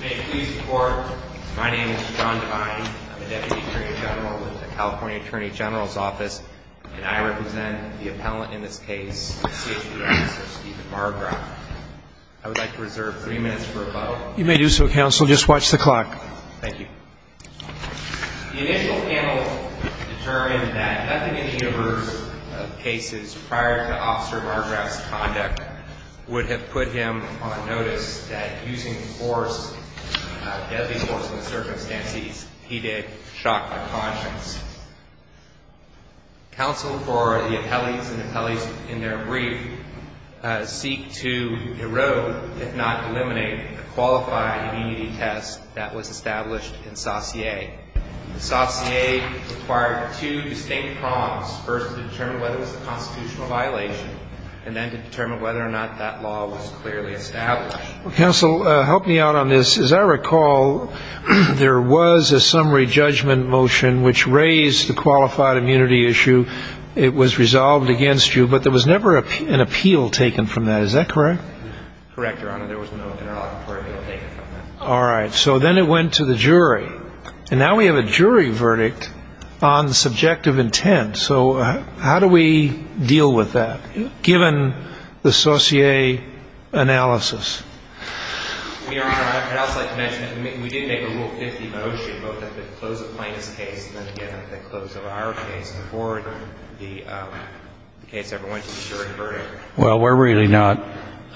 May it please the Court, my name is John Devine. I'm the Deputy Attorney General with the California Attorney General's Office, and I represent the appellant in this case, C.H.B. Officer Stephen Margroff. I would like to reserve three minutes for rebuttal. You may do so, Counsel. Just watch the clock. Thank you. The initial panel determined that nothing in the universe of cases prior to Officer Margroff's conduct would have put him on notice that using force, deadly force in the circumstances, he did shock the conscience. Counsel, for the appellees and appellees in their brief, seek to erode, if not eliminate, the qualified immunity test that was established in Saussure. Saussure required two distinct prongs, first to determine whether it was a constitutional violation, and then to determine whether or not that law was clearly established. Counsel, help me out on this. As I recall, there was a summary judgment motion which raised the qualified immunity issue. It was resolved against you, but there was never an appeal taken from that. Is that correct? Correct, Your Honor. There was no general appeal taken from that. All right. So then it went to the jury. And now we have a jury verdict on subjective intent. So how do we deal with that, given the Saussure analysis? Your Honor, I'd also like to mention that we did make a Rule 50 motion, both at the close of Plaintiff's case and then again at the close of our case, before the case ever went to the jury verdict. Well, we're really not,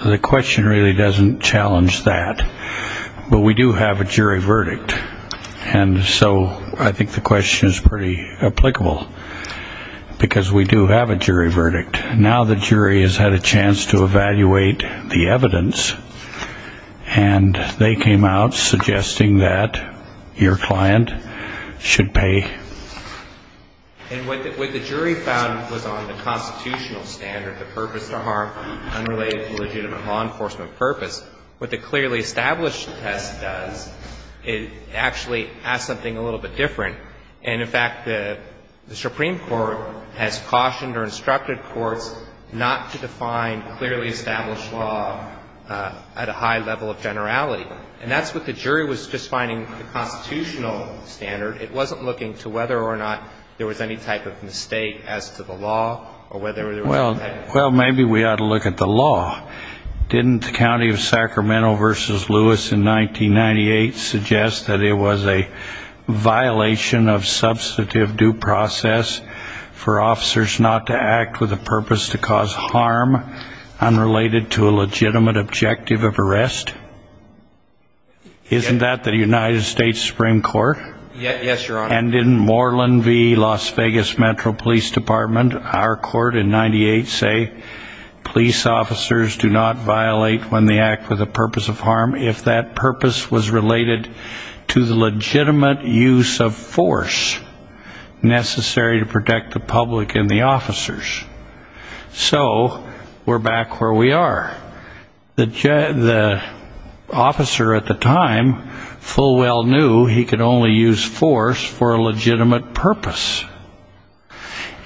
the question really doesn't challenge that. But we do have a jury verdict. And so I think the question is pretty applicable, because we do have a jury verdict. Now the jury has had a chance to evaluate the evidence, and they came out suggesting that your client should pay. And what the jury found was on the constitutional standard, the purpose to harm unrelated to legitimate law enforcement purpose, what the clearly established test does, it actually has something a little bit different. And, in fact, the Supreme Court has cautioned or instructed courts not to define clearly established law at a high level of generality. And that's what the jury was just finding the constitutional standard. It wasn't looking to whether or not there was any type of mistake as to the law or whether there was any type of mistake. Well, maybe we ought to look at the law. Didn't the County of Sacramento v. Lewis in 1998 suggest that it was a violation of substantive due process for officers not to act with a purpose to cause harm unrelated to a legitimate objective of arrest? Isn't that the United States Supreme Court? Yes, Your Honor. And didn't Moreland v. Las Vegas Metro Police Department, our court in 1998, say police officers do not violate when they act with a purpose of harm if that purpose was related to the legitimate use of force necessary to protect the public and the officers? So we're back where we are. The officer at the time full well knew he could only use force for a legitimate purpose.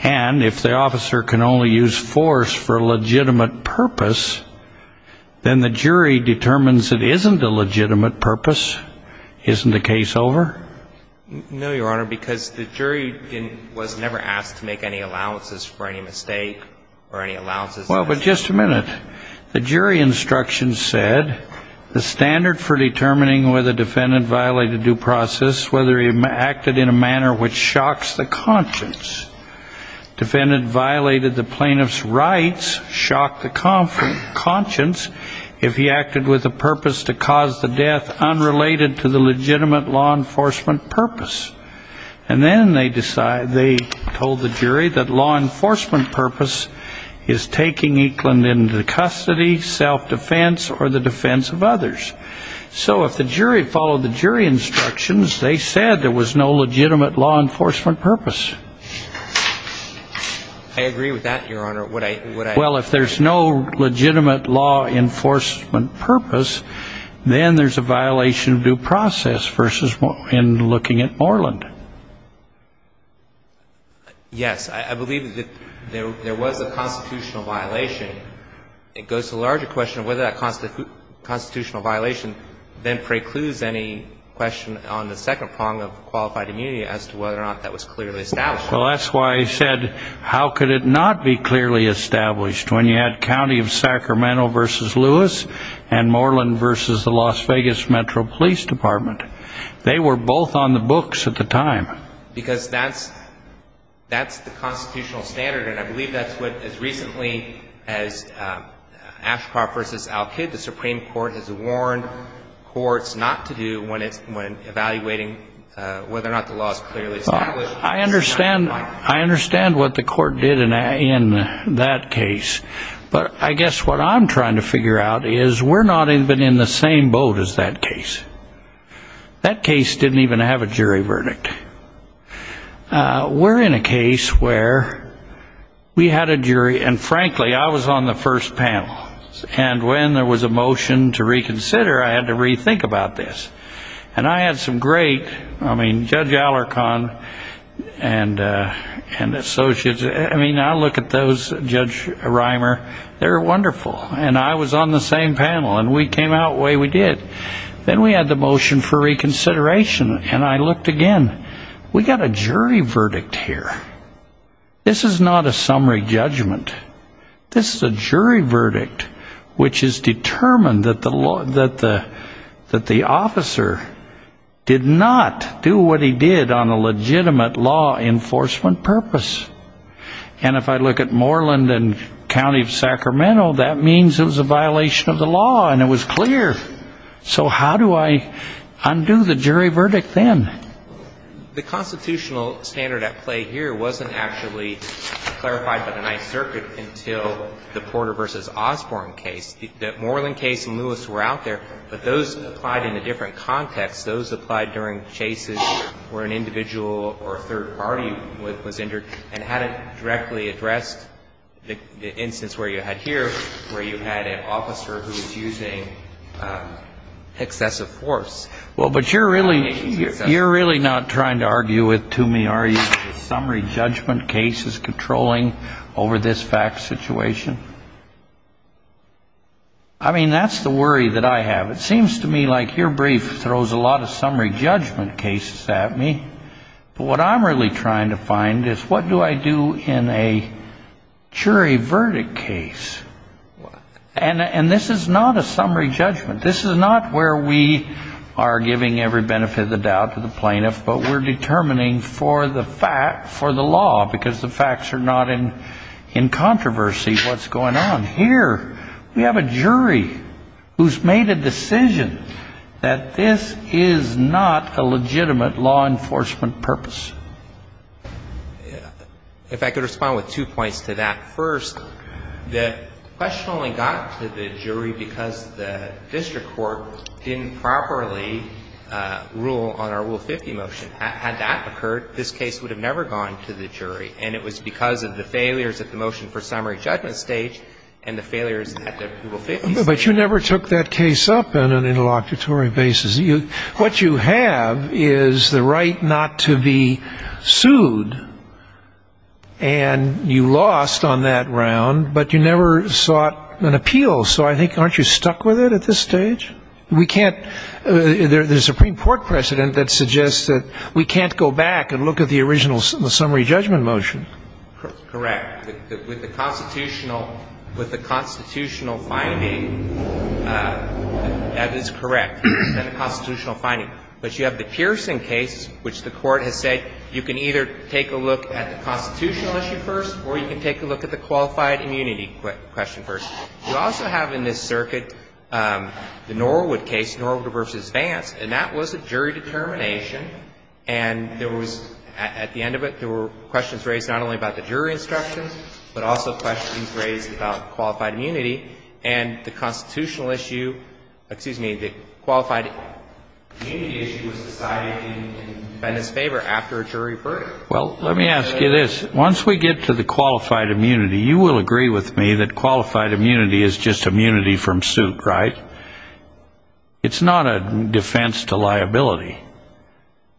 And if the officer can only use force for a legitimate purpose, then the jury determines it isn't a legitimate purpose. Isn't the case over? No, Your Honor, because the jury was never asked to make any allowances for any mistake or any allowances. Well, but just a minute. The jury instructions said the standard for determining whether a defendant violated due process, whether he acted in a manner which shocks the conscience, defendant violated the plaintiff's rights, shocked the conscience if he acted with a purpose to cause the death unrelated to the legitimate law enforcement purpose. And then they told the jury that law enforcement purpose is taking Eakland into custody, self-defense, or the defense of others. So if the jury followed the jury instructions, they said there was no legitimate law enforcement purpose. I agree with that, Your Honor. Well, if there's no legitimate law enforcement purpose, then there's a violation of due process versus in looking at Moreland. Yes, I believe that there was a constitutional violation. It goes to the larger question of whether that constitutional violation then precludes any question on the second prong of qualified immunity as to whether or not that was clearly established. Well, that's why I said, how could it not be clearly established when you had County of Sacramento versus Lewis and Moreland versus the Las Vegas Metro Police Department? They were both on the books at the time. Because that's the constitutional standard, and I believe that's what, as recently as Ashkar versus Al-Kid, the Supreme Court has warned courts not to do when evaluating whether or not the law is clearly established. I understand what the court did in that case, but I guess what I'm trying to figure out is we're not even in the same boat as that case. That case didn't even have a jury verdict. We're in a case where we had a jury, and frankly, I was on the first panel, and when there was a motion to reconsider, I had to rethink about this. And I had some great, I mean, Judge Alarcon and Associates, I mean, I look at those, Judge Reimer, they were wonderful, and I was on the same panel, and we came out the way we did. Then we had the motion for reconsideration, and I looked again. We got a jury verdict here. This is not a summary judgment. This is a jury verdict, which is determined that the officer did not do what he did on a legitimate law enforcement purpose. And if I look at Moreland and County of Sacramento, that means it was a violation of the law, and it was clear. So how do I undo the jury verdict then? The constitutional standard at play here wasn't actually clarified by the Ninth Circuit until the Porter v. Osborne case. The Moreland case and Lewis were out there, but those applied in a different context. Those applied during chases where an individual or a third party was injured and hadn't directly addressed the instance where you had here, where you had an officer who was using excessive force. Well, but you're really not trying to argue with, to me, are you, summary judgment cases controlling over this fact situation? I mean, that's the worry that I have. It seems to me like your brief throws a lot of summary judgment cases at me. But what I'm really trying to find is what do I do in a jury verdict case? And this is not a summary judgment. This is not where we are giving every benefit of the doubt to the plaintiff, but we're determining for the fact, for the law, because the facts are not in controversy what's going on. Here we have a jury who's made a decision that this is not a legitimate law enforcement purpose. If I could respond with two points to that first. The question only got to the jury because the district court didn't properly rule on our Rule 50 motion. Had that occurred, this case would have never gone to the jury. And it was because of the failures at the motion for summary judgment stage and the failures at the Rule 50 stage. But you never took that case up on an interlocutory basis. What you have is the right not to be sued, and you lost on that round, but you never sought an appeal. So I think aren't you stuck with it at this stage? We can't ‑‑ the Supreme Court precedent that suggests that we can't go back and look at the original summary judgment motion. Correct. With the constitutional finding, that is correct, the constitutional finding. But you have the Pearson case, which the Court has said you can either take a look at the constitutional issue first or you can take a look at the qualified immunity question first. You also have in this circuit the Norwood case, Norwood v. Vance, and that was a jury determination. And there was, at the end of it, there were questions raised not only about the jury instructions, but also questions raised about qualified immunity. And the constitutional issue, excuse me, the qualified immunity issue was decided in the defendant's favor after a jury verdict. Well, let me ask you this. Once we get to the qualified immunity, you will agree with me that qualified immunity is just immunity from suit, right? It's not a defense to liability.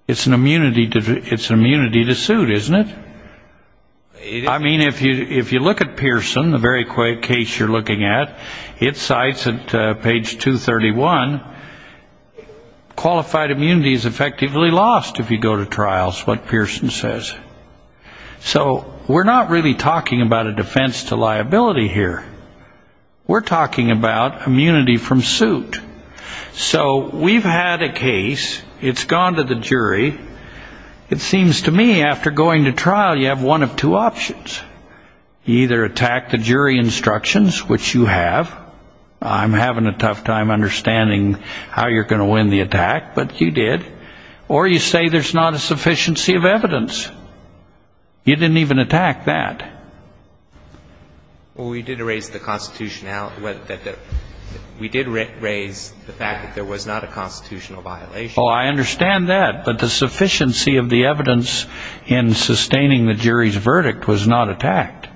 It's an immunity to suit, isn't it? I mean, if you look at Pearson, the very case you're looking at, it cites at page 231, qualified immunity is effectively lost if you go to trials, what Pearson says. So we're not really talking about a defense to liability here. We're talking about immunity from suit. So we've had a case. It's gone to the jury. It seems to me after going to trial, you have one of two options. You either attack the jury instructions, which you have. I'm having a tough time understanding how you're going to win the attack, but you did. Or you say there's not a sufficiency of evidence. You didn't even attack that. Well, we did raise the fact that there was not a constitutional violation. Oh, I understand that. But the sufficiency of the evidence in sustaining the jury's verdict was not attacked.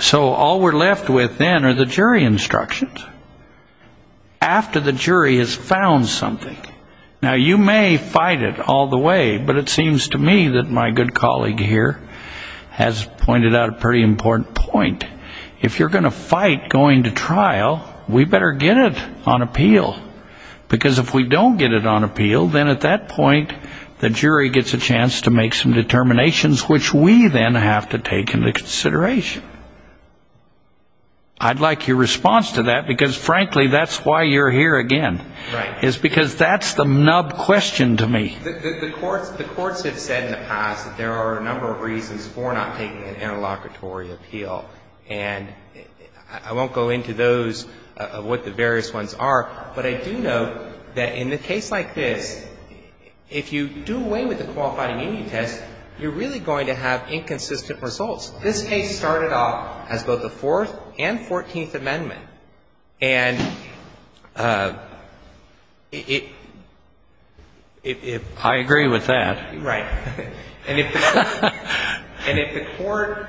So all we're left with then are the jury instructions after the jury has found something. Now, you may fight it all the way, but it seems to me that my good colleague here has pointed out a pretty important point. If you're going to fight going to trial, we better get it on appeal. Because if we don't get it on appeal, then at that point, the jury gets a chance to make some determinations, which we then have to take into consideration. I'd like your response to that, because, frankly, that's why you're here again. Right. It's because that's the nub question to me. The courts have said in the past that there are a number of reasons for not taking an interlocutory appeal. And I won't go into those, what the various ones are, but I do know that in a case like this, if you do away with the qualifying immunity test, you're really going to have inconsistent results. This case started off as both a Fourth and Fourteenth Amendment. And if the court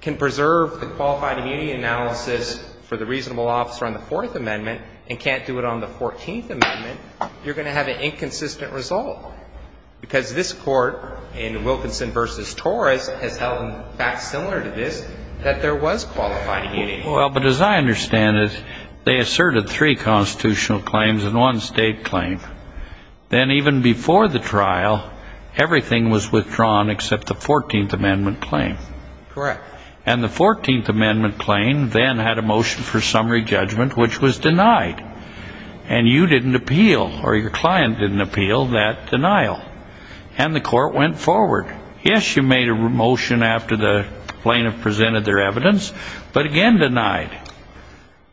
can preserve the qualified immunity analysis for the reasonable officer on the Fourth Amendment and can't do it on the Fourteenth Amendment, you're going to have an inconsistent result. Because this Court in Wilkinson v. Torres has held, in fact, similar to this, that there was qualified immunity. Well, but as I understand it, they asserted three constitutional claims and one state claim. Then even before the trial, everything was withdrawn except the Fourteenth Amendment claim. Correct. And the Fourteenth Amendment claim then had a motion for summary judgment, which was denied. And you didn't appeal or your client didn't appeal that denial. And the court went forward. Yes, you made a motion after the plaintiff presented their evidence, but again denied.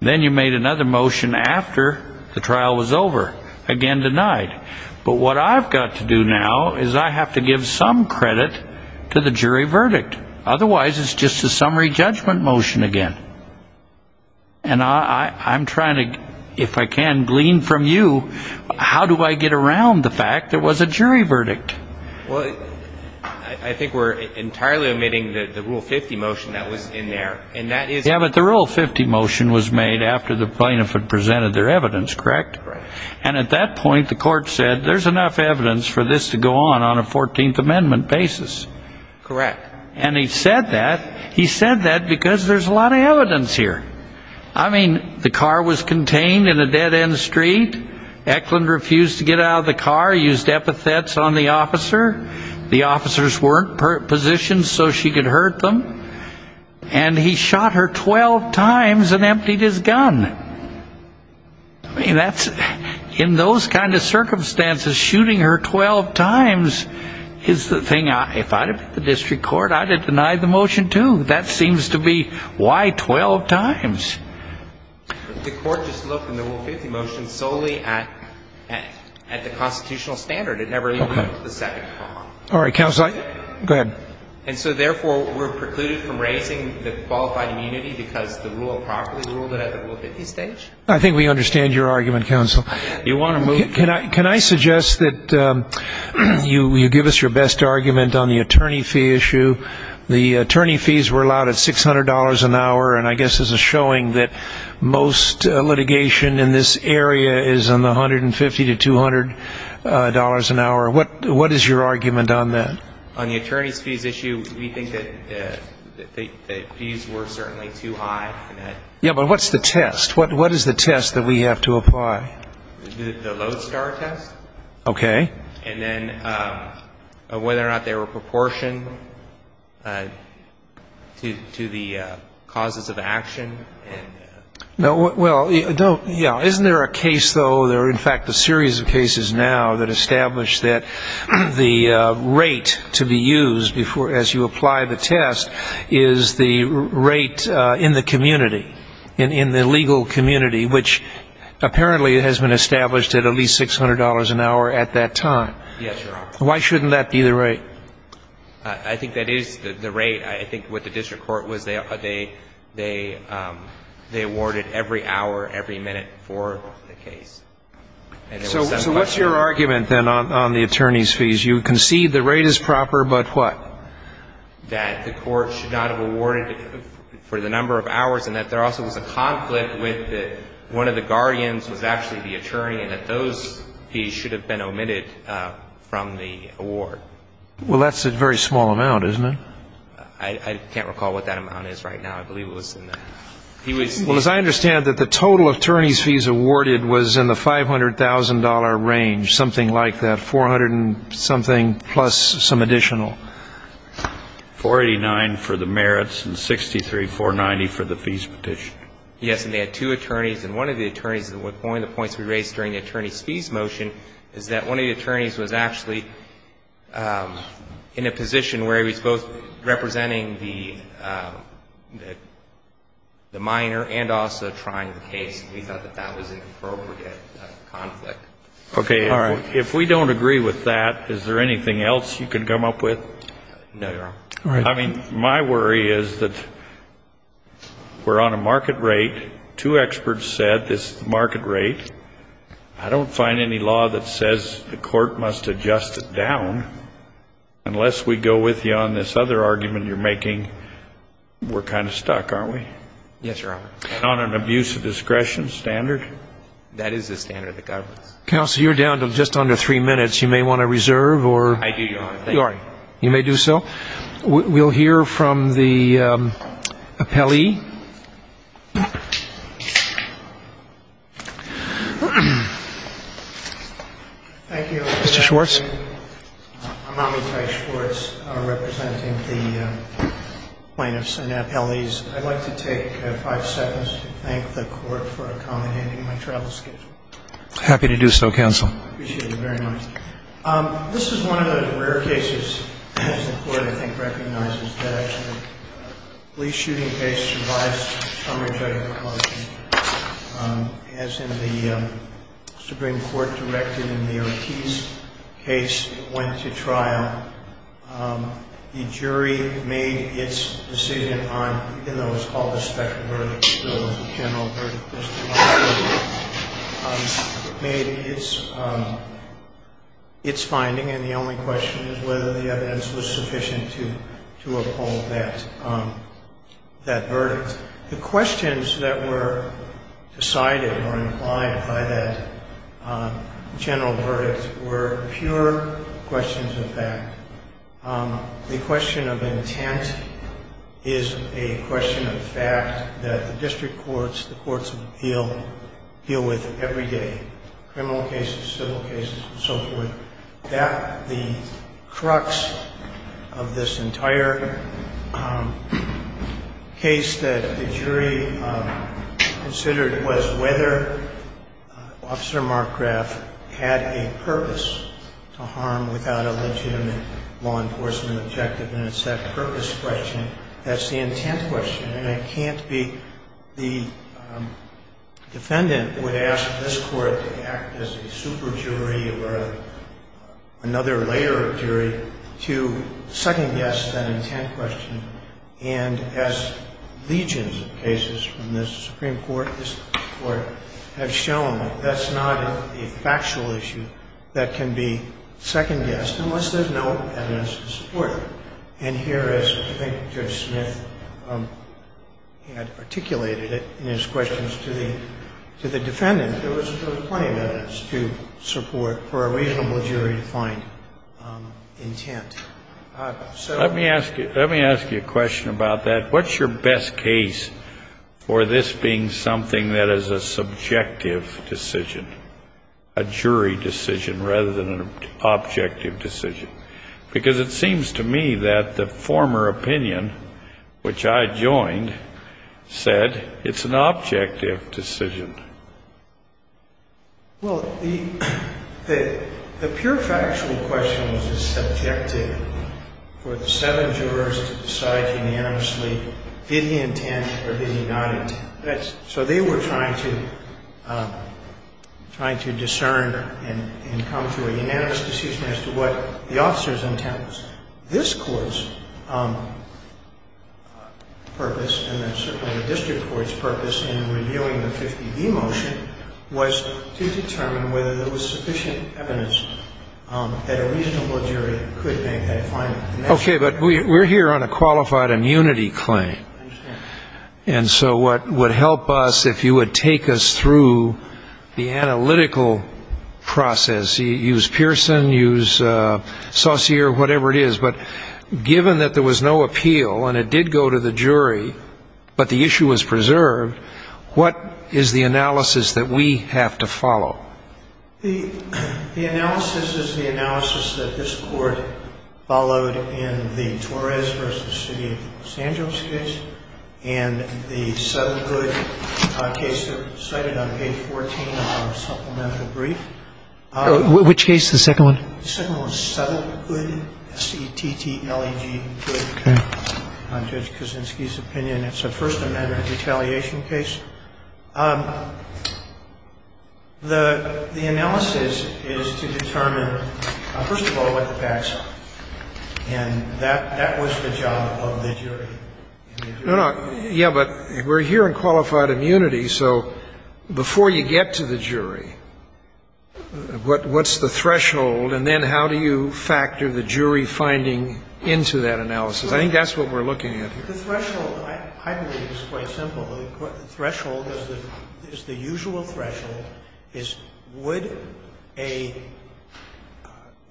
Then you made another motion after the trial was over, again denied. But what I've got to do now is I have to give some credit to the jury verdict. Otherwise, it's just a summary judgment motion again. And I'm trying to, if I can, glean from you, how do I get around the fact there was a jury verdict? Well, I think we're entirely omitting the Rule 50 motion that was in there. Yeah, but the Rule 50 motion was made after the plaintiff had presented their evidence, correct? And at that point, the court said there's enough evidence for this to go on on a Fourteenth Amendment basis. Correct. And he said that. He said that because there's a lot of evidence here. I mean, the car was contained in a dead-end street. Eklund refused to get out of the car, used epithets on the officer. The officers weren't positioned so she could hurt them. And he shot her 12 times and emptied his gun. I mean, that's, in those kind of circumstances, shooting her 12 times is the thing. If I'd have been the district court, I'd have denied the motion too. That seems to be why 12 times. The court just looked in the Rule 50 motion solely at the constitutional standard. It never even looked at the second part. All right, counsel. Go ahead. And so, therefore, we're precluded from raising the qualified immunity because the rule properly ruled it at the Rule 50 stage? I think we understand your argument, counsel. You want to move? Can I suggest that you give us your best argument on the attorney fee issue? The attorney fees were allowed at $600 an hour, and I guess there's a showing that most litigation in this area is in the $150 to $200 an hour. What is your argument on that? On the attorney's fees issue, we think that the fees were certainly too high. Yeah, but what's the test? What is the test that we have to apply? The Lodestar test. Okay. And then whether or not they were proportioned to the causes of action. Well, yeah, isn't there a case, though, there are in fact a series of cases now that establish that the rate to be used as you apply the test is the rate in the community, in the legal community, which apparently has been established at at least $600 an hour at that time. Yes, Your Honor. Why shouldn't that be the rate? I think that is the rate. I think what the district court was, they awarded every hour, every minute for the case. So what's your argument then on the attorney's fees? You concede the rate is proper, but what? That the court should not have awarded for the number of hours, and that there also was a conflict with one of the guardians was actually the attorney, and that those fees should have been omitted from the award. Well, that's a very small amount, isn't it? I can't recall what that amount is right now. I believe it was in the ---- Well, as I understand it, the total attorney's fees awarded was in the $500,000 range, something like that, plus some additional. $489,000 for the merits and $63,490,000 for the fees petition. Yes, and they had two attorneys. And one of the attorneys, one of the points we raised during the attorney's fees motion is that one of the attorneys was actually in a position where he was both representing the minor and also trying the case. We thought that that was an appropriate conflict. Okay. If we don't agree with that, is there anything else you can come up with? No, Your Honor. All right. I mean, my worry is that we're on a market rate. Two experts said this market rate. I don't find any law that says the court must adjust it down unless we go with you on this other argument you're making. We're kind of stuck, aren't we? Yes, Your Honor. On an abuse of discretion standard. That is the standard that governs. Counsel, you're down to just under three minutes. You may want to reserve. I do, Your Honor. Thank you. You may do so. We'll hear from the appellee. Thank you. Mr. Schwartz. I'm Amitai Schwartz. I'm representing the plaintiffs and appellees. I'd like to take five seconds to thank the court for accommodating my travel schedule. I'm happy to do so, counsel. I appreciate it very much. This is one of those rare cases that the court, I think, recognizes that actually a police shooting case survives some rejection. As in the Supreme Court directed in the Ortiz case that went to trial, the jury made its decision on, even though it was called a special verdict, there was a general verdict, made its finding, and the only question is whether the evidence was sufficient to uphold that verdict. The questions that were decided or implied by that general verdict were pure questions of fact. The question of intent is a question of fact that the district courts, the courts of appeal, deal with every day, criminal cases, civil cases, and so forth. The crux of this entire case that the jury considered was whether Officer Mark Graf had a purpose to harm without a legitimate law enforcement objective, and it's that purpose question that's the intent question. The defendant would ask this court to act as a super jury or another layer of jury to second-guess that intent question, and as legions of cases from this Supreme Court have shown, that's not a factual issue that can be second-guessed unless there's no evidence to support it. And here, as I think Judge Smith had articulated it in his questions to the defendant, there was plenty of evidence to support for a reasonable jury-defined intent. Let me ask you a question about that. What's your best case for this being something that is a subjective decision, a jury decision, rather than an objective decision? Because it seems to me that the former opinion, which I joined, said it's an objective decision. Well, the pure factual question was subjective for the seven jurors to decide unanimously, is he intent or is he not intent? So they were trying to discern and come to a unanimous decision as to what the officer's intent was. This Court's purpose, and certainly the district court's purpose in reviewing the 50B motion, was to determine whether there was sufficient evidence that a reasonable jury could make that finding. Okay, but we're here on a qualified immunity claim. I understand. And so what would help us, if you would take us through the analytical process, use Pearson, use Saussure, whatever it is, but given that there was no appeal and it did go to the jury but the issue was preserved, what is the analysis that we have to follow? The analysis is the analysis that this Court followed in the Torres v. City of Los Angeles case and the Settle Good case that was cited on page 14 of our supplemental brief. Which case, the second one? The second one was Settle Good, S-E-T-T-L-E-G Good, Judge Kuczynski's opinion. It's a First Amendment retaliation case. The analysis is to determine, first of all, what the facts are. And that was the job of the jury. No, no. Yeah, but we're here on qualified immunity. So before you get to the jury, what's the threshold? And then how do you factor the jury finding into that analysis? I think that's what we're looking at here. The threshold, I believe, is quite simple. The threshold is the usual threshold is would a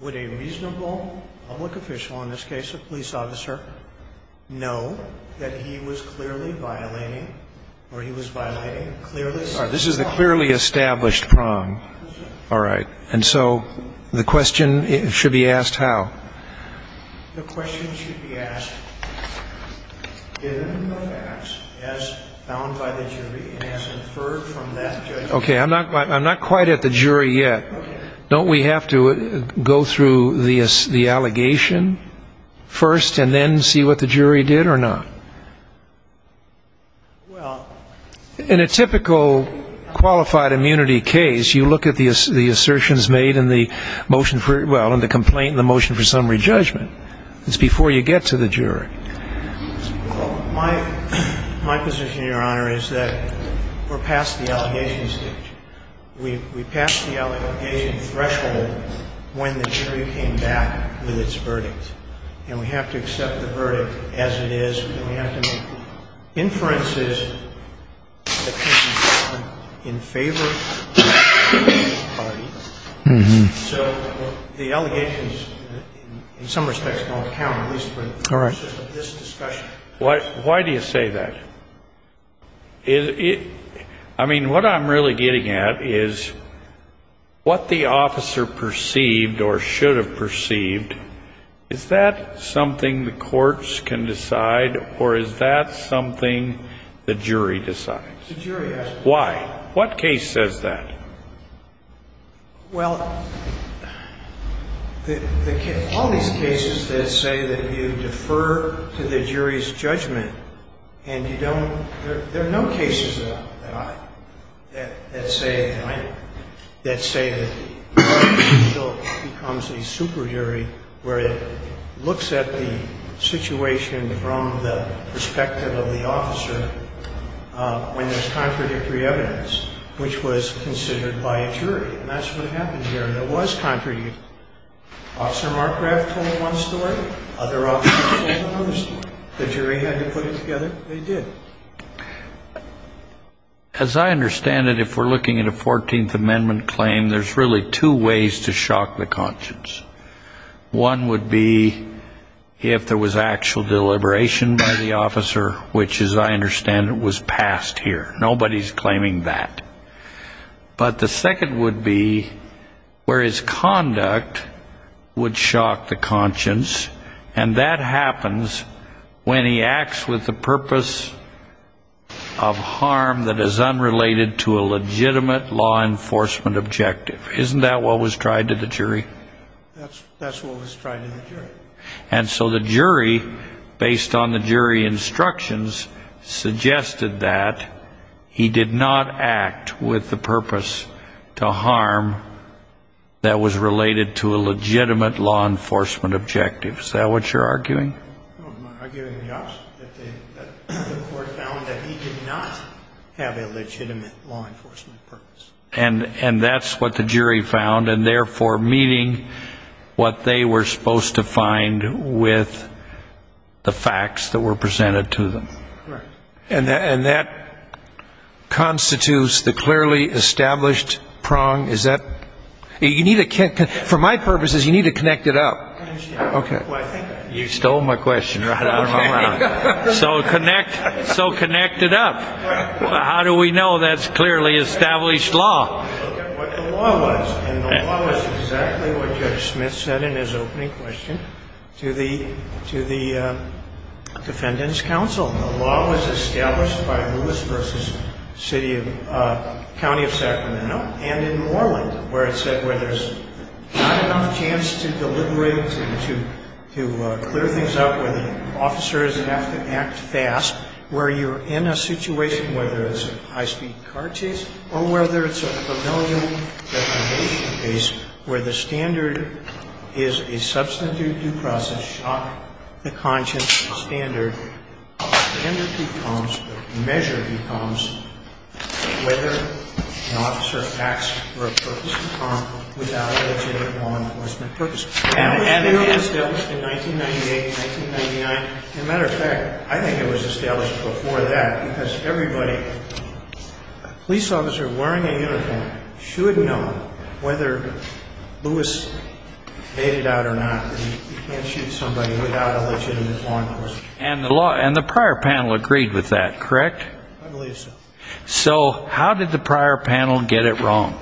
reasonable public official, in this case a police officer, know that he was clearly violating or he was violating clearly established prong. All right, this is the clearly established prong. All right. And so the question should be asked how? The question should be asked, given the facts as found by the jury and as inferred from that judgment. Okay, I'm not quite at the jury yet. Don't we have to go through the allegation first and then see what the jury did or not? Well, in a typical qualified immunity case, you look at the assertions made in the motion for the complaint and the motion for summary judgment. It's before you get to the jury. My position, Your Honor, is that we're past the allegation stage. We passed the allegation threshold when the jury came back with its verdict. And we have to accept the verdict as it is. We have to make inferences in favor of the party. So the allegations, in some respects, don't count, at least for this discussion. Why do you say that? I mean, what I'm really getting at is what the officer perceived or should have perceived, is that something the courts can decide or is that something the jury decides? The jury has to decide. Why? What case says that? Well, all these cases that say that you defer to the jury's judgment and you don't ‑‑ there are no cases that say that the judge becomes a super jury where it looks at the situation from the perspective of the officer when there's contradictory evidence, which was considered by a jury. And that's what happened here. There was contradictory evidence. Officer Markgraf told one story. Other officers told another story. The jury had to put it together. They did. As I understand it, if we're looking at a 14th Amendment claim, there's really two ways to shock the conscience. One would be if there was actual deliberation by the officer, which, as I understand it, was passed here. Nobody's claiming that. But the second would be where his conduct would shock the conscience, and that happens when he acts with a purpose of harm that is unrelated to a legitimate law enforcement objective. Isn't that what was tried to the jury? That's what was tried to the jury. And so the jury, based on the jury instructions, suggested that he did not act with the purpose to harm that was related to a legitimate law enforcement objective. Is that what you're arguing? I'm arguing the opposite, that the court found that he did not have a legitimate law enforcement purpose. And that's what the jury found, and therefore meeting what they were supposed to find with the facts that were presented to them. And that constitutes the clearly established prong? Is that? For my purposes, you need to connect it up. Okay. You stole my question right off the bat. So connect it up. How do we know that's clearly established law? Look at what the law was. And the law was exactly what Judge Smith said in his opening question to the defendants' counsel. The law was established by Lewis v. City of ‑‑ County of Sacramento and in Moreland, where it said where there's not enough chance to deliberate, to clear things up, where the officers have to act fast, where you're in a situation, whether it's a high‑speed car chase or whether it's a familial deprivation case, where the standard is a substantive due process, shock the conscience standard. The standard becomes, the measure becomes whether an officer acts for a purpose to harm without a legitimate law enforcement purpose. And it was established in 1998 and 1999. As a matter of fact, I think it was established before that because everybody, a police officer wearing a uniform, should know whether Lewis made it out or not and you can't shoot somebody without a legitimate law enforcement purpose. And the prior panel agreed with that, correct? I believe so. So how did the prior panel get it wrong?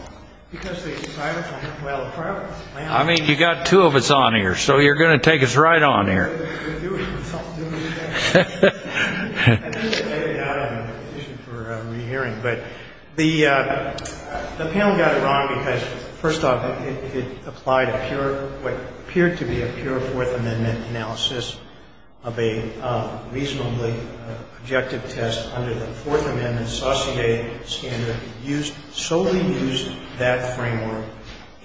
Because the prior panel, well, the prior panel I mean, you've got two of us on here, so you're going to take us right on here. I think we're getting out of the position for rehearing, but the panel got it wrong because, first off, it applied what appeared to be a pure Fourth Amendment analysis of a reasonably objective test under the Fourth Amendment associated standard, and solely used that framework.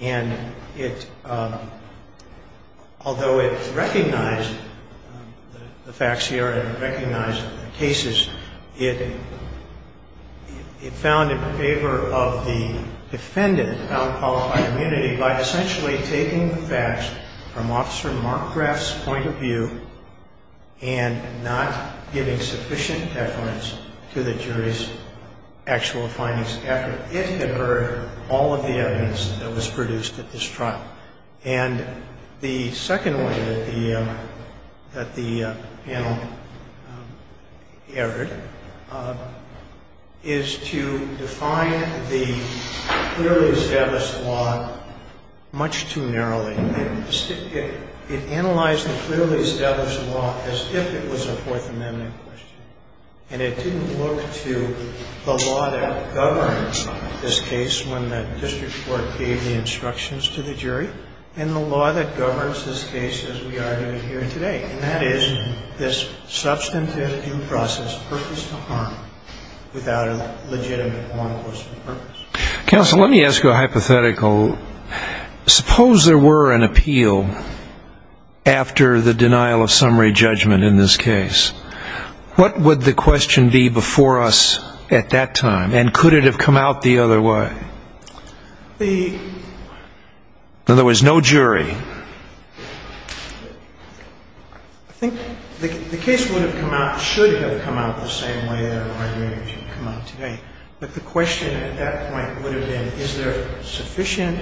And it, although it recognized the facts here and it recognized the cases, it found in favor of the defendant, the found qualified immunity, by essentially taking the facts from Officer Mark Graf's point of view and not giving sufficient deference to the jury's actual findings after it had heard all of the evidence that was produced at this trial. And the second way that the panel erred is to define the clearly established law much too narrowly. It analyzed the clearly established law as if it was a Fourth Amendment question, and it didn't look to the law that governs this case when the district court gave the instructions to the jury and the law that governs this case as we are doing here today, and that is this substantive due process, purpose to harm, without a legitimate law enforcement purpose. Counsel, let me ask you a hypothetical. Suppose there were an appeal after the denial of summary judgment in this case. What would the question be before us at that time? And could it have come out the other way? In other words, no jury. I think the case would have come out, should have come out the same way But the question at that point would have been, is there sufficient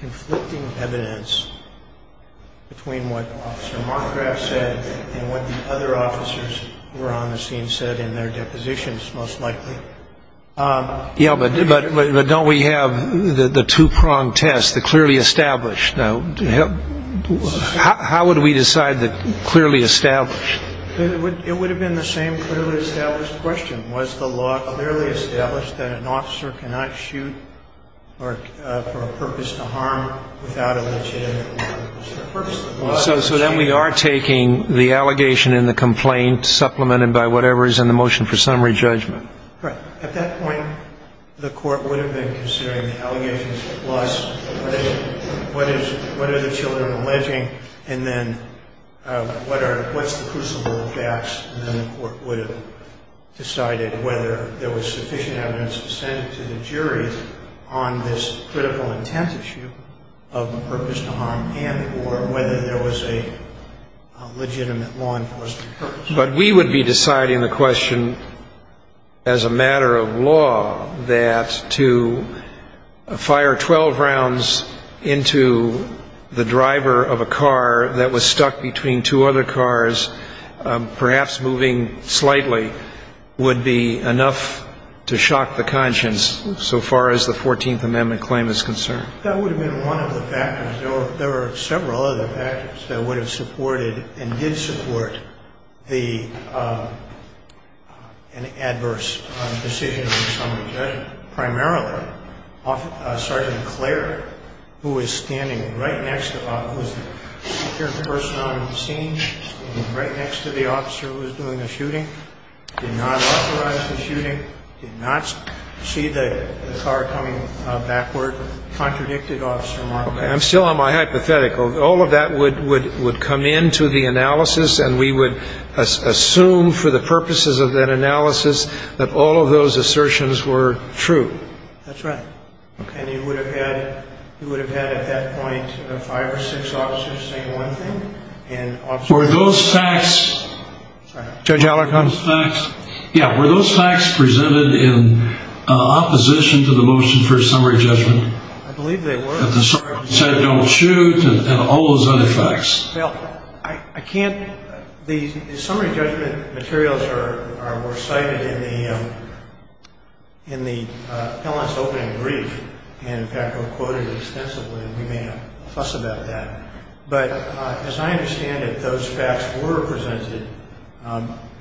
conflicting evidence between what Officer Mothraff said and what the other officers who were on the scene said in their depositions most likely? Yeah, but don't we have the two-pronged test, the clearly established? How would we decide the clearly established? It would have been the same clearly established question. Was the law clearly established that an officer cannot shoot for a purpose to harm without a legitimate law enforcement purpose? So then we are taking the allegation in the complaint supplemented by whatever is in the motion for summary judgment. Right. At that point, the court would have been considering the allegations plus what are the children alleging, and then what's the crucible of gaps? And then the court would have decided whether there was sufficient evidence to send to the jury on this critical intent issue of a purpose to harm and or whether there was a legitimate law enforcement purpose. But we would be deciding the question as a matter of law that to fire 12 rounds into the driver of a car that was stuck between two other cars, perhaps moving slightly, would be enough to shock the conscience so far as the 14th Amendment claim is concerned. That would have been one of the factors. There were several other factors that would have supported and did support an adverse decision on summary judgment. Primarily, Sergeant Clare, who was standing right next to the officer who was doing the shooting, did not authorize the shooting, did not see the car coming backward, contradicted Officer Markle. I'm still on my hypothetical. All of that would come into the analysis, and we would assume for the purposes of that analysis that all of those assertions were true. That's right. And you would have had at that point five or six officers saying one thing. Were those facts presented in opposition to the motion for summary judgment? I believe they were. That the sergeant said don't shoot and all those other facts. Well, I can't. The summary judgment materials were cited in the penalty opening brief and, in fact, were quoted extensively, and we may have fussed about that. But as I understand it, those facts were presented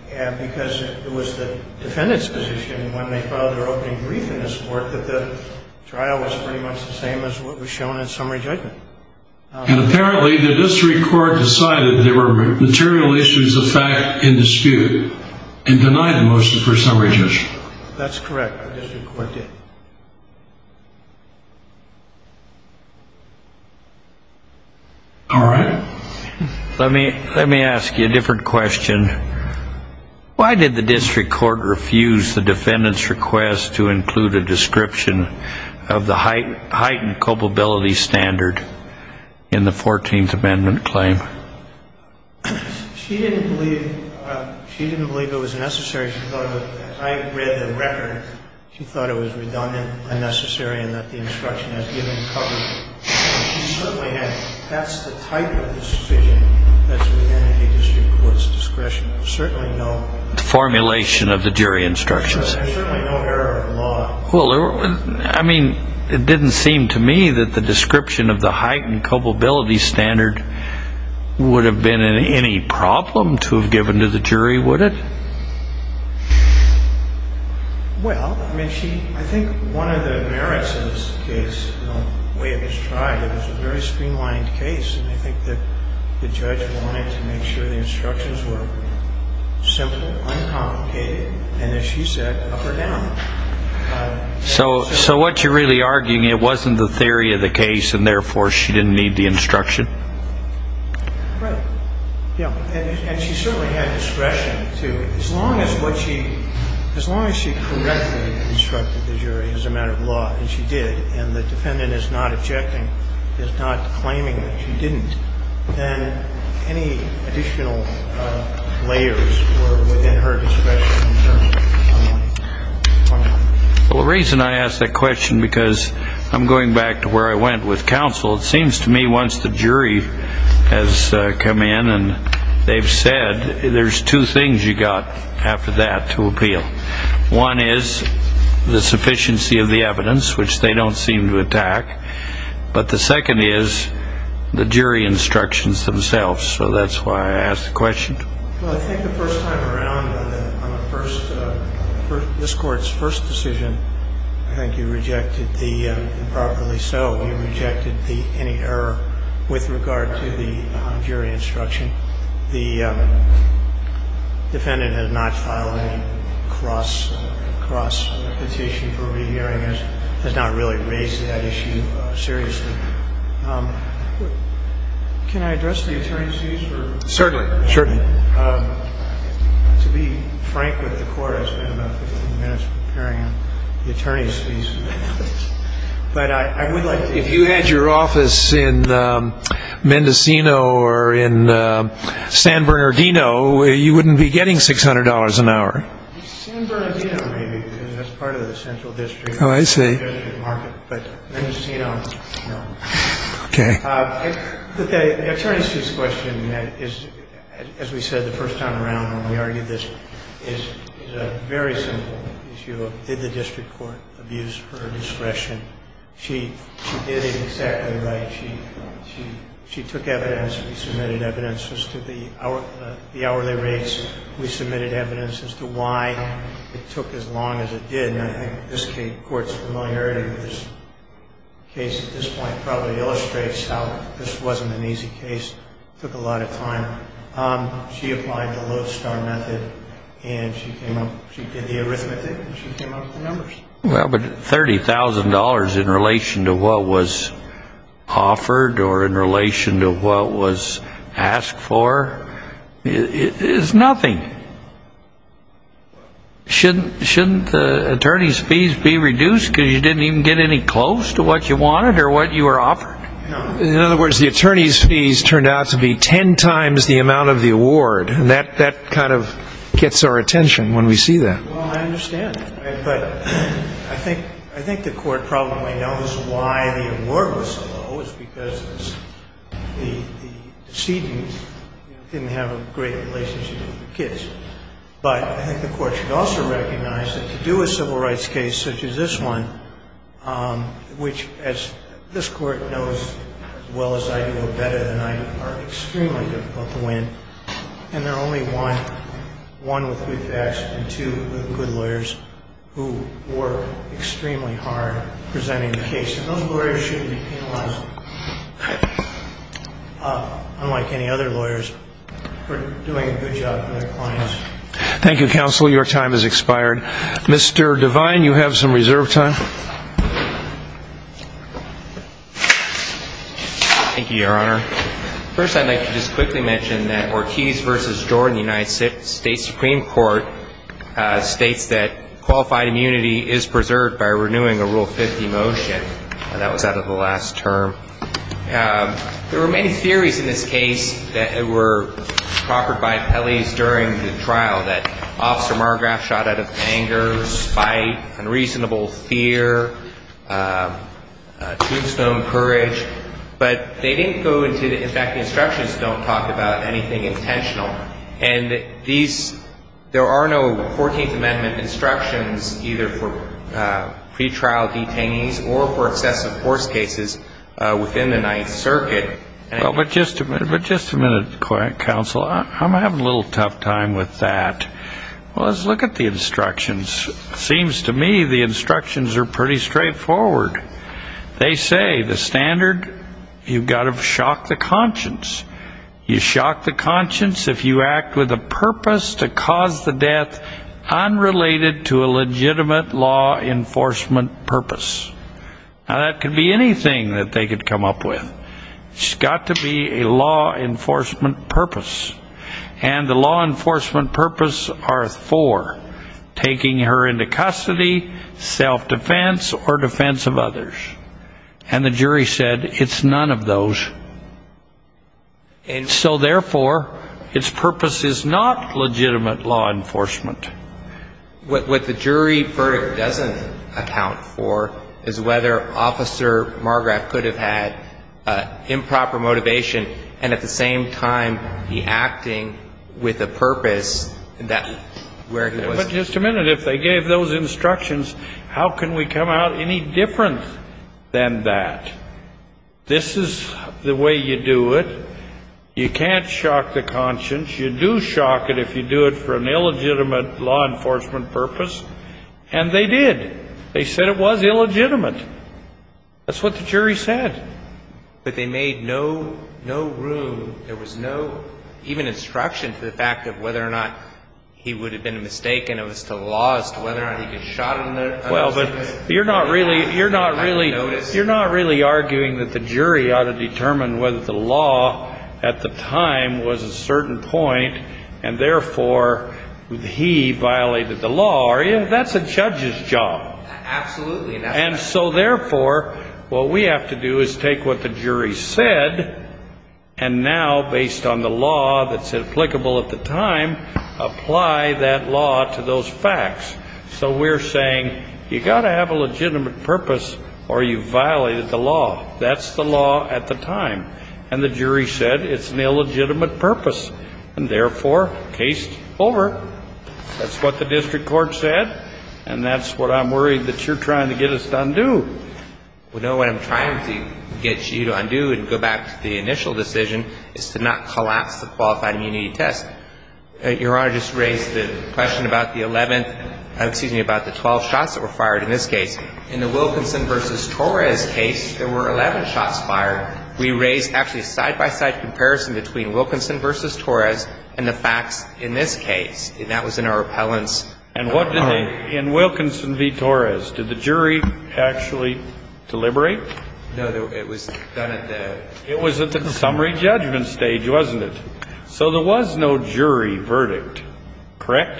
because it was the defendant's position when they filed their opening brief in this court that the trial was pretty much the same as what was shown in summary judgment. And apparently the district court decided there were material issues of fact in dispute and denied the motion for summary judgment. That's correct. The district court did. All right. Let me ask you a different question. Why did the district court refuse the defendant's request to include a description of the heightened culpability standard in the 14th Amendment claim? She didn't believe it was necessary. She thought that I read the record. She thought it was redundant, unnecessary, and that the instruction has given coverage. She certainly hadn't. That's the type of decision that's within a district court's discretion. There's certainly no error in the law. I mean, it didn't seem to me that the description of the heightened culpability standard would have been any problem to have given to the jury, would it? Well, I mean, I think one of the merits of this case, the way it was tried, it was a very streamlined case. And I think that the judge wanted to make sure the instructions were simple, uncomplicated, and as she said, up or down. So what you're really arguing, it wasn't the theory of the case, and therefore she didn't need the instruction? Right. And she certainly had discretion to, as long as what she, as long as she correctly instructed the jury as a matter of law, and she did, and the defendant is not objecting, is not claiming that she didn't, then any additional layers were within her discretion. Well, the reason I ask that question, because I'm going back to where I went with counsel, it seems to me once the jury has come in and they've said, there's two things you've got after that to appeal. One is the sufficiency of the evidence, which they don't seem to attack. But the second is the jury instructions themselves. So that's why I ask the question. Well, I think the first time around on the first, this Court's first decision, I think you rejected the, improperly so, you rejected the, any error with regard to the jury instruction. The defendant has not filed any cross, cross petition for rehearing. Has not really raised that issue seriously. Can I address the attorneys, please? Certainly. To be frank with the Court, I spent about 15 minutes preparing the attorneys, please. But I would like to. If you had your office in Mendocino or in San Bernardino, you wouldn't be getting $600 an hour. San Bernardino, maybe, because that's part of the central district. Oh, I see. But Mendocino, no. Okay. The attorneys' question is, as we said the first time around when we argued this, is a very simple issue of, did the district court abuse her discretion? She did it exactly right. She took evidence. We submitted evidence as to the hourly rates. We submitted evidence as to why it took as long as it did. And I think this Court's familiarity with this case at this point probably illustrates how this wasn't an easy case. It took a lot of time. She applied the low-star method, and she came up, she did the arithmetic, and she came up with the numbers. Well, but $30,000 in relation to what was offered or in relation to what was asked for is nothing. Shouldn't the attorneys' fees be reduced because you didn't even get any close to what you wanted or what you were offered? In other words, the attorneys' fees turned out to be ten times the amount of the award. And that kind of gets our attention when we see that. Well, I understand that. But I think the Court probably knows why the award was so low. It was because the decedent didn't have a great relationship with the kids. But I think the Court should also recognize that to do a civil rights case such as this one, which, as this Court knows as well as I do, are better than I do, are extremely difficult to win, and there are only one with good facts and two with good lawyers who work extremely hard presenting the case. And those lawyers shouldn't be penalized, unlike any other lawyers, for doing a good job for their clients. Thank you, Counsel. Your time has expired. Mr. Devine, you have some reserve time. Thank you, Your Honor. First, I'd like to just quickly mention that Ortiz v. Jordan United States Supreme Court states that qualified immunity is preserved by renewing a Rule 50 motion. That was out of the last term. There were many theories in this case that were proffered by Pelley's during the trial, that Officer Margrave shot out of anger, spite, unreasonable fear, tombstone courage. But they didn't go into the – in fact, the instructions don't talk about anything intentional. And these – there are no 14th Amendment instructions either for pretrial detainees or for excessive force cases within the Ninth Circuit. But just a minute. But just a minute, Counsel. I'm having a little tough time with that. Well, let's look at the instructions. It seems to me the instructions are pretty straightforward. They say the standard, you've got to shock the conscience. You shock the conscience if you act with a purpose to cause the death unrelated to a legitimate law enforcement purpose. Now, that could be anything that they could come up with. It's got to be a law enforcement purpose. And the law enforcement purpose are four, taking her into custody, self-defense, or defense of others. And the jury said it's none of those. And so, therefore, its purpose is not legitimate law enforcement. What the jury verdict doesn't account for is whether Officer Margrave could have had improper motivation and at the same time be acting with a purpose that where he was. But just a minute. If they gave those instructions, how can we come out any different than that? This is the way you do it. You can't shock the conscience. You do shock it if you do it for an illegitimate law enforcement purpose. And they did. They said it was illegitimate. That's what the jury said. But they made no room. There was no even instruction to the fact of whether or not he would have been mistaken. It was to the law as to whether or not he could have shot him. Well, but you're not really arguing that the jury ought to determine whether the law at the time was a certain point and, therefore, he violated the law, are you? That's a judge's job. Absolutely. And so, therefore, what we have to do is take what the jury said and now, based on the law that's applicable at the time, apply that law to those facts. So we're saying you've got to have a legitimate purpose or you violated the law. That's the law at the time. And the jury said it's an illegitimate purpose. And, therefore, case over. That's what the district court said. And that's what I'm worried that you're trying to get us to undo. Well, no. What I'm trying to get you to undo and go back to the initial decision is to not collapse the qualified immunity test. Your Honor just raised the question about the 11th — excuse me, about the 12 shots that were fired in this case. In the Wilkinson v. Torres case, there were 11 shots fired. We raised actually a side-by-side comparison between Wilkinson v. Torres and the facts in this case. And that was in our appellants. And what did they — in Wilkinson v. Torres, did the jury actually deliberate? No. It was done at the — It was at the summary judgment stage, wasn't it? So there was no jury verdict, correct?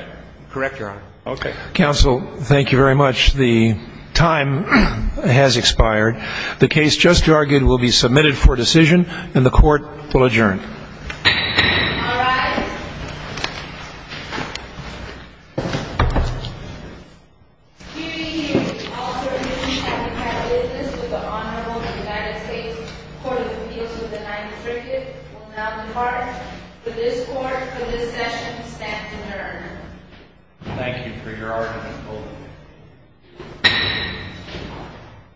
Correct, Your Honor. Okay. Counsel, thank you very much. The time has expired. The case just argued will be submitted for decision, and the Court will adjourn. All rise. Excuse me. All certainties that we have business with the Honorable United States Court of Appeals of the Ninth Circuit will now depart. For this Court, for this session, stand adjourned. Thank you for your argument, both of you.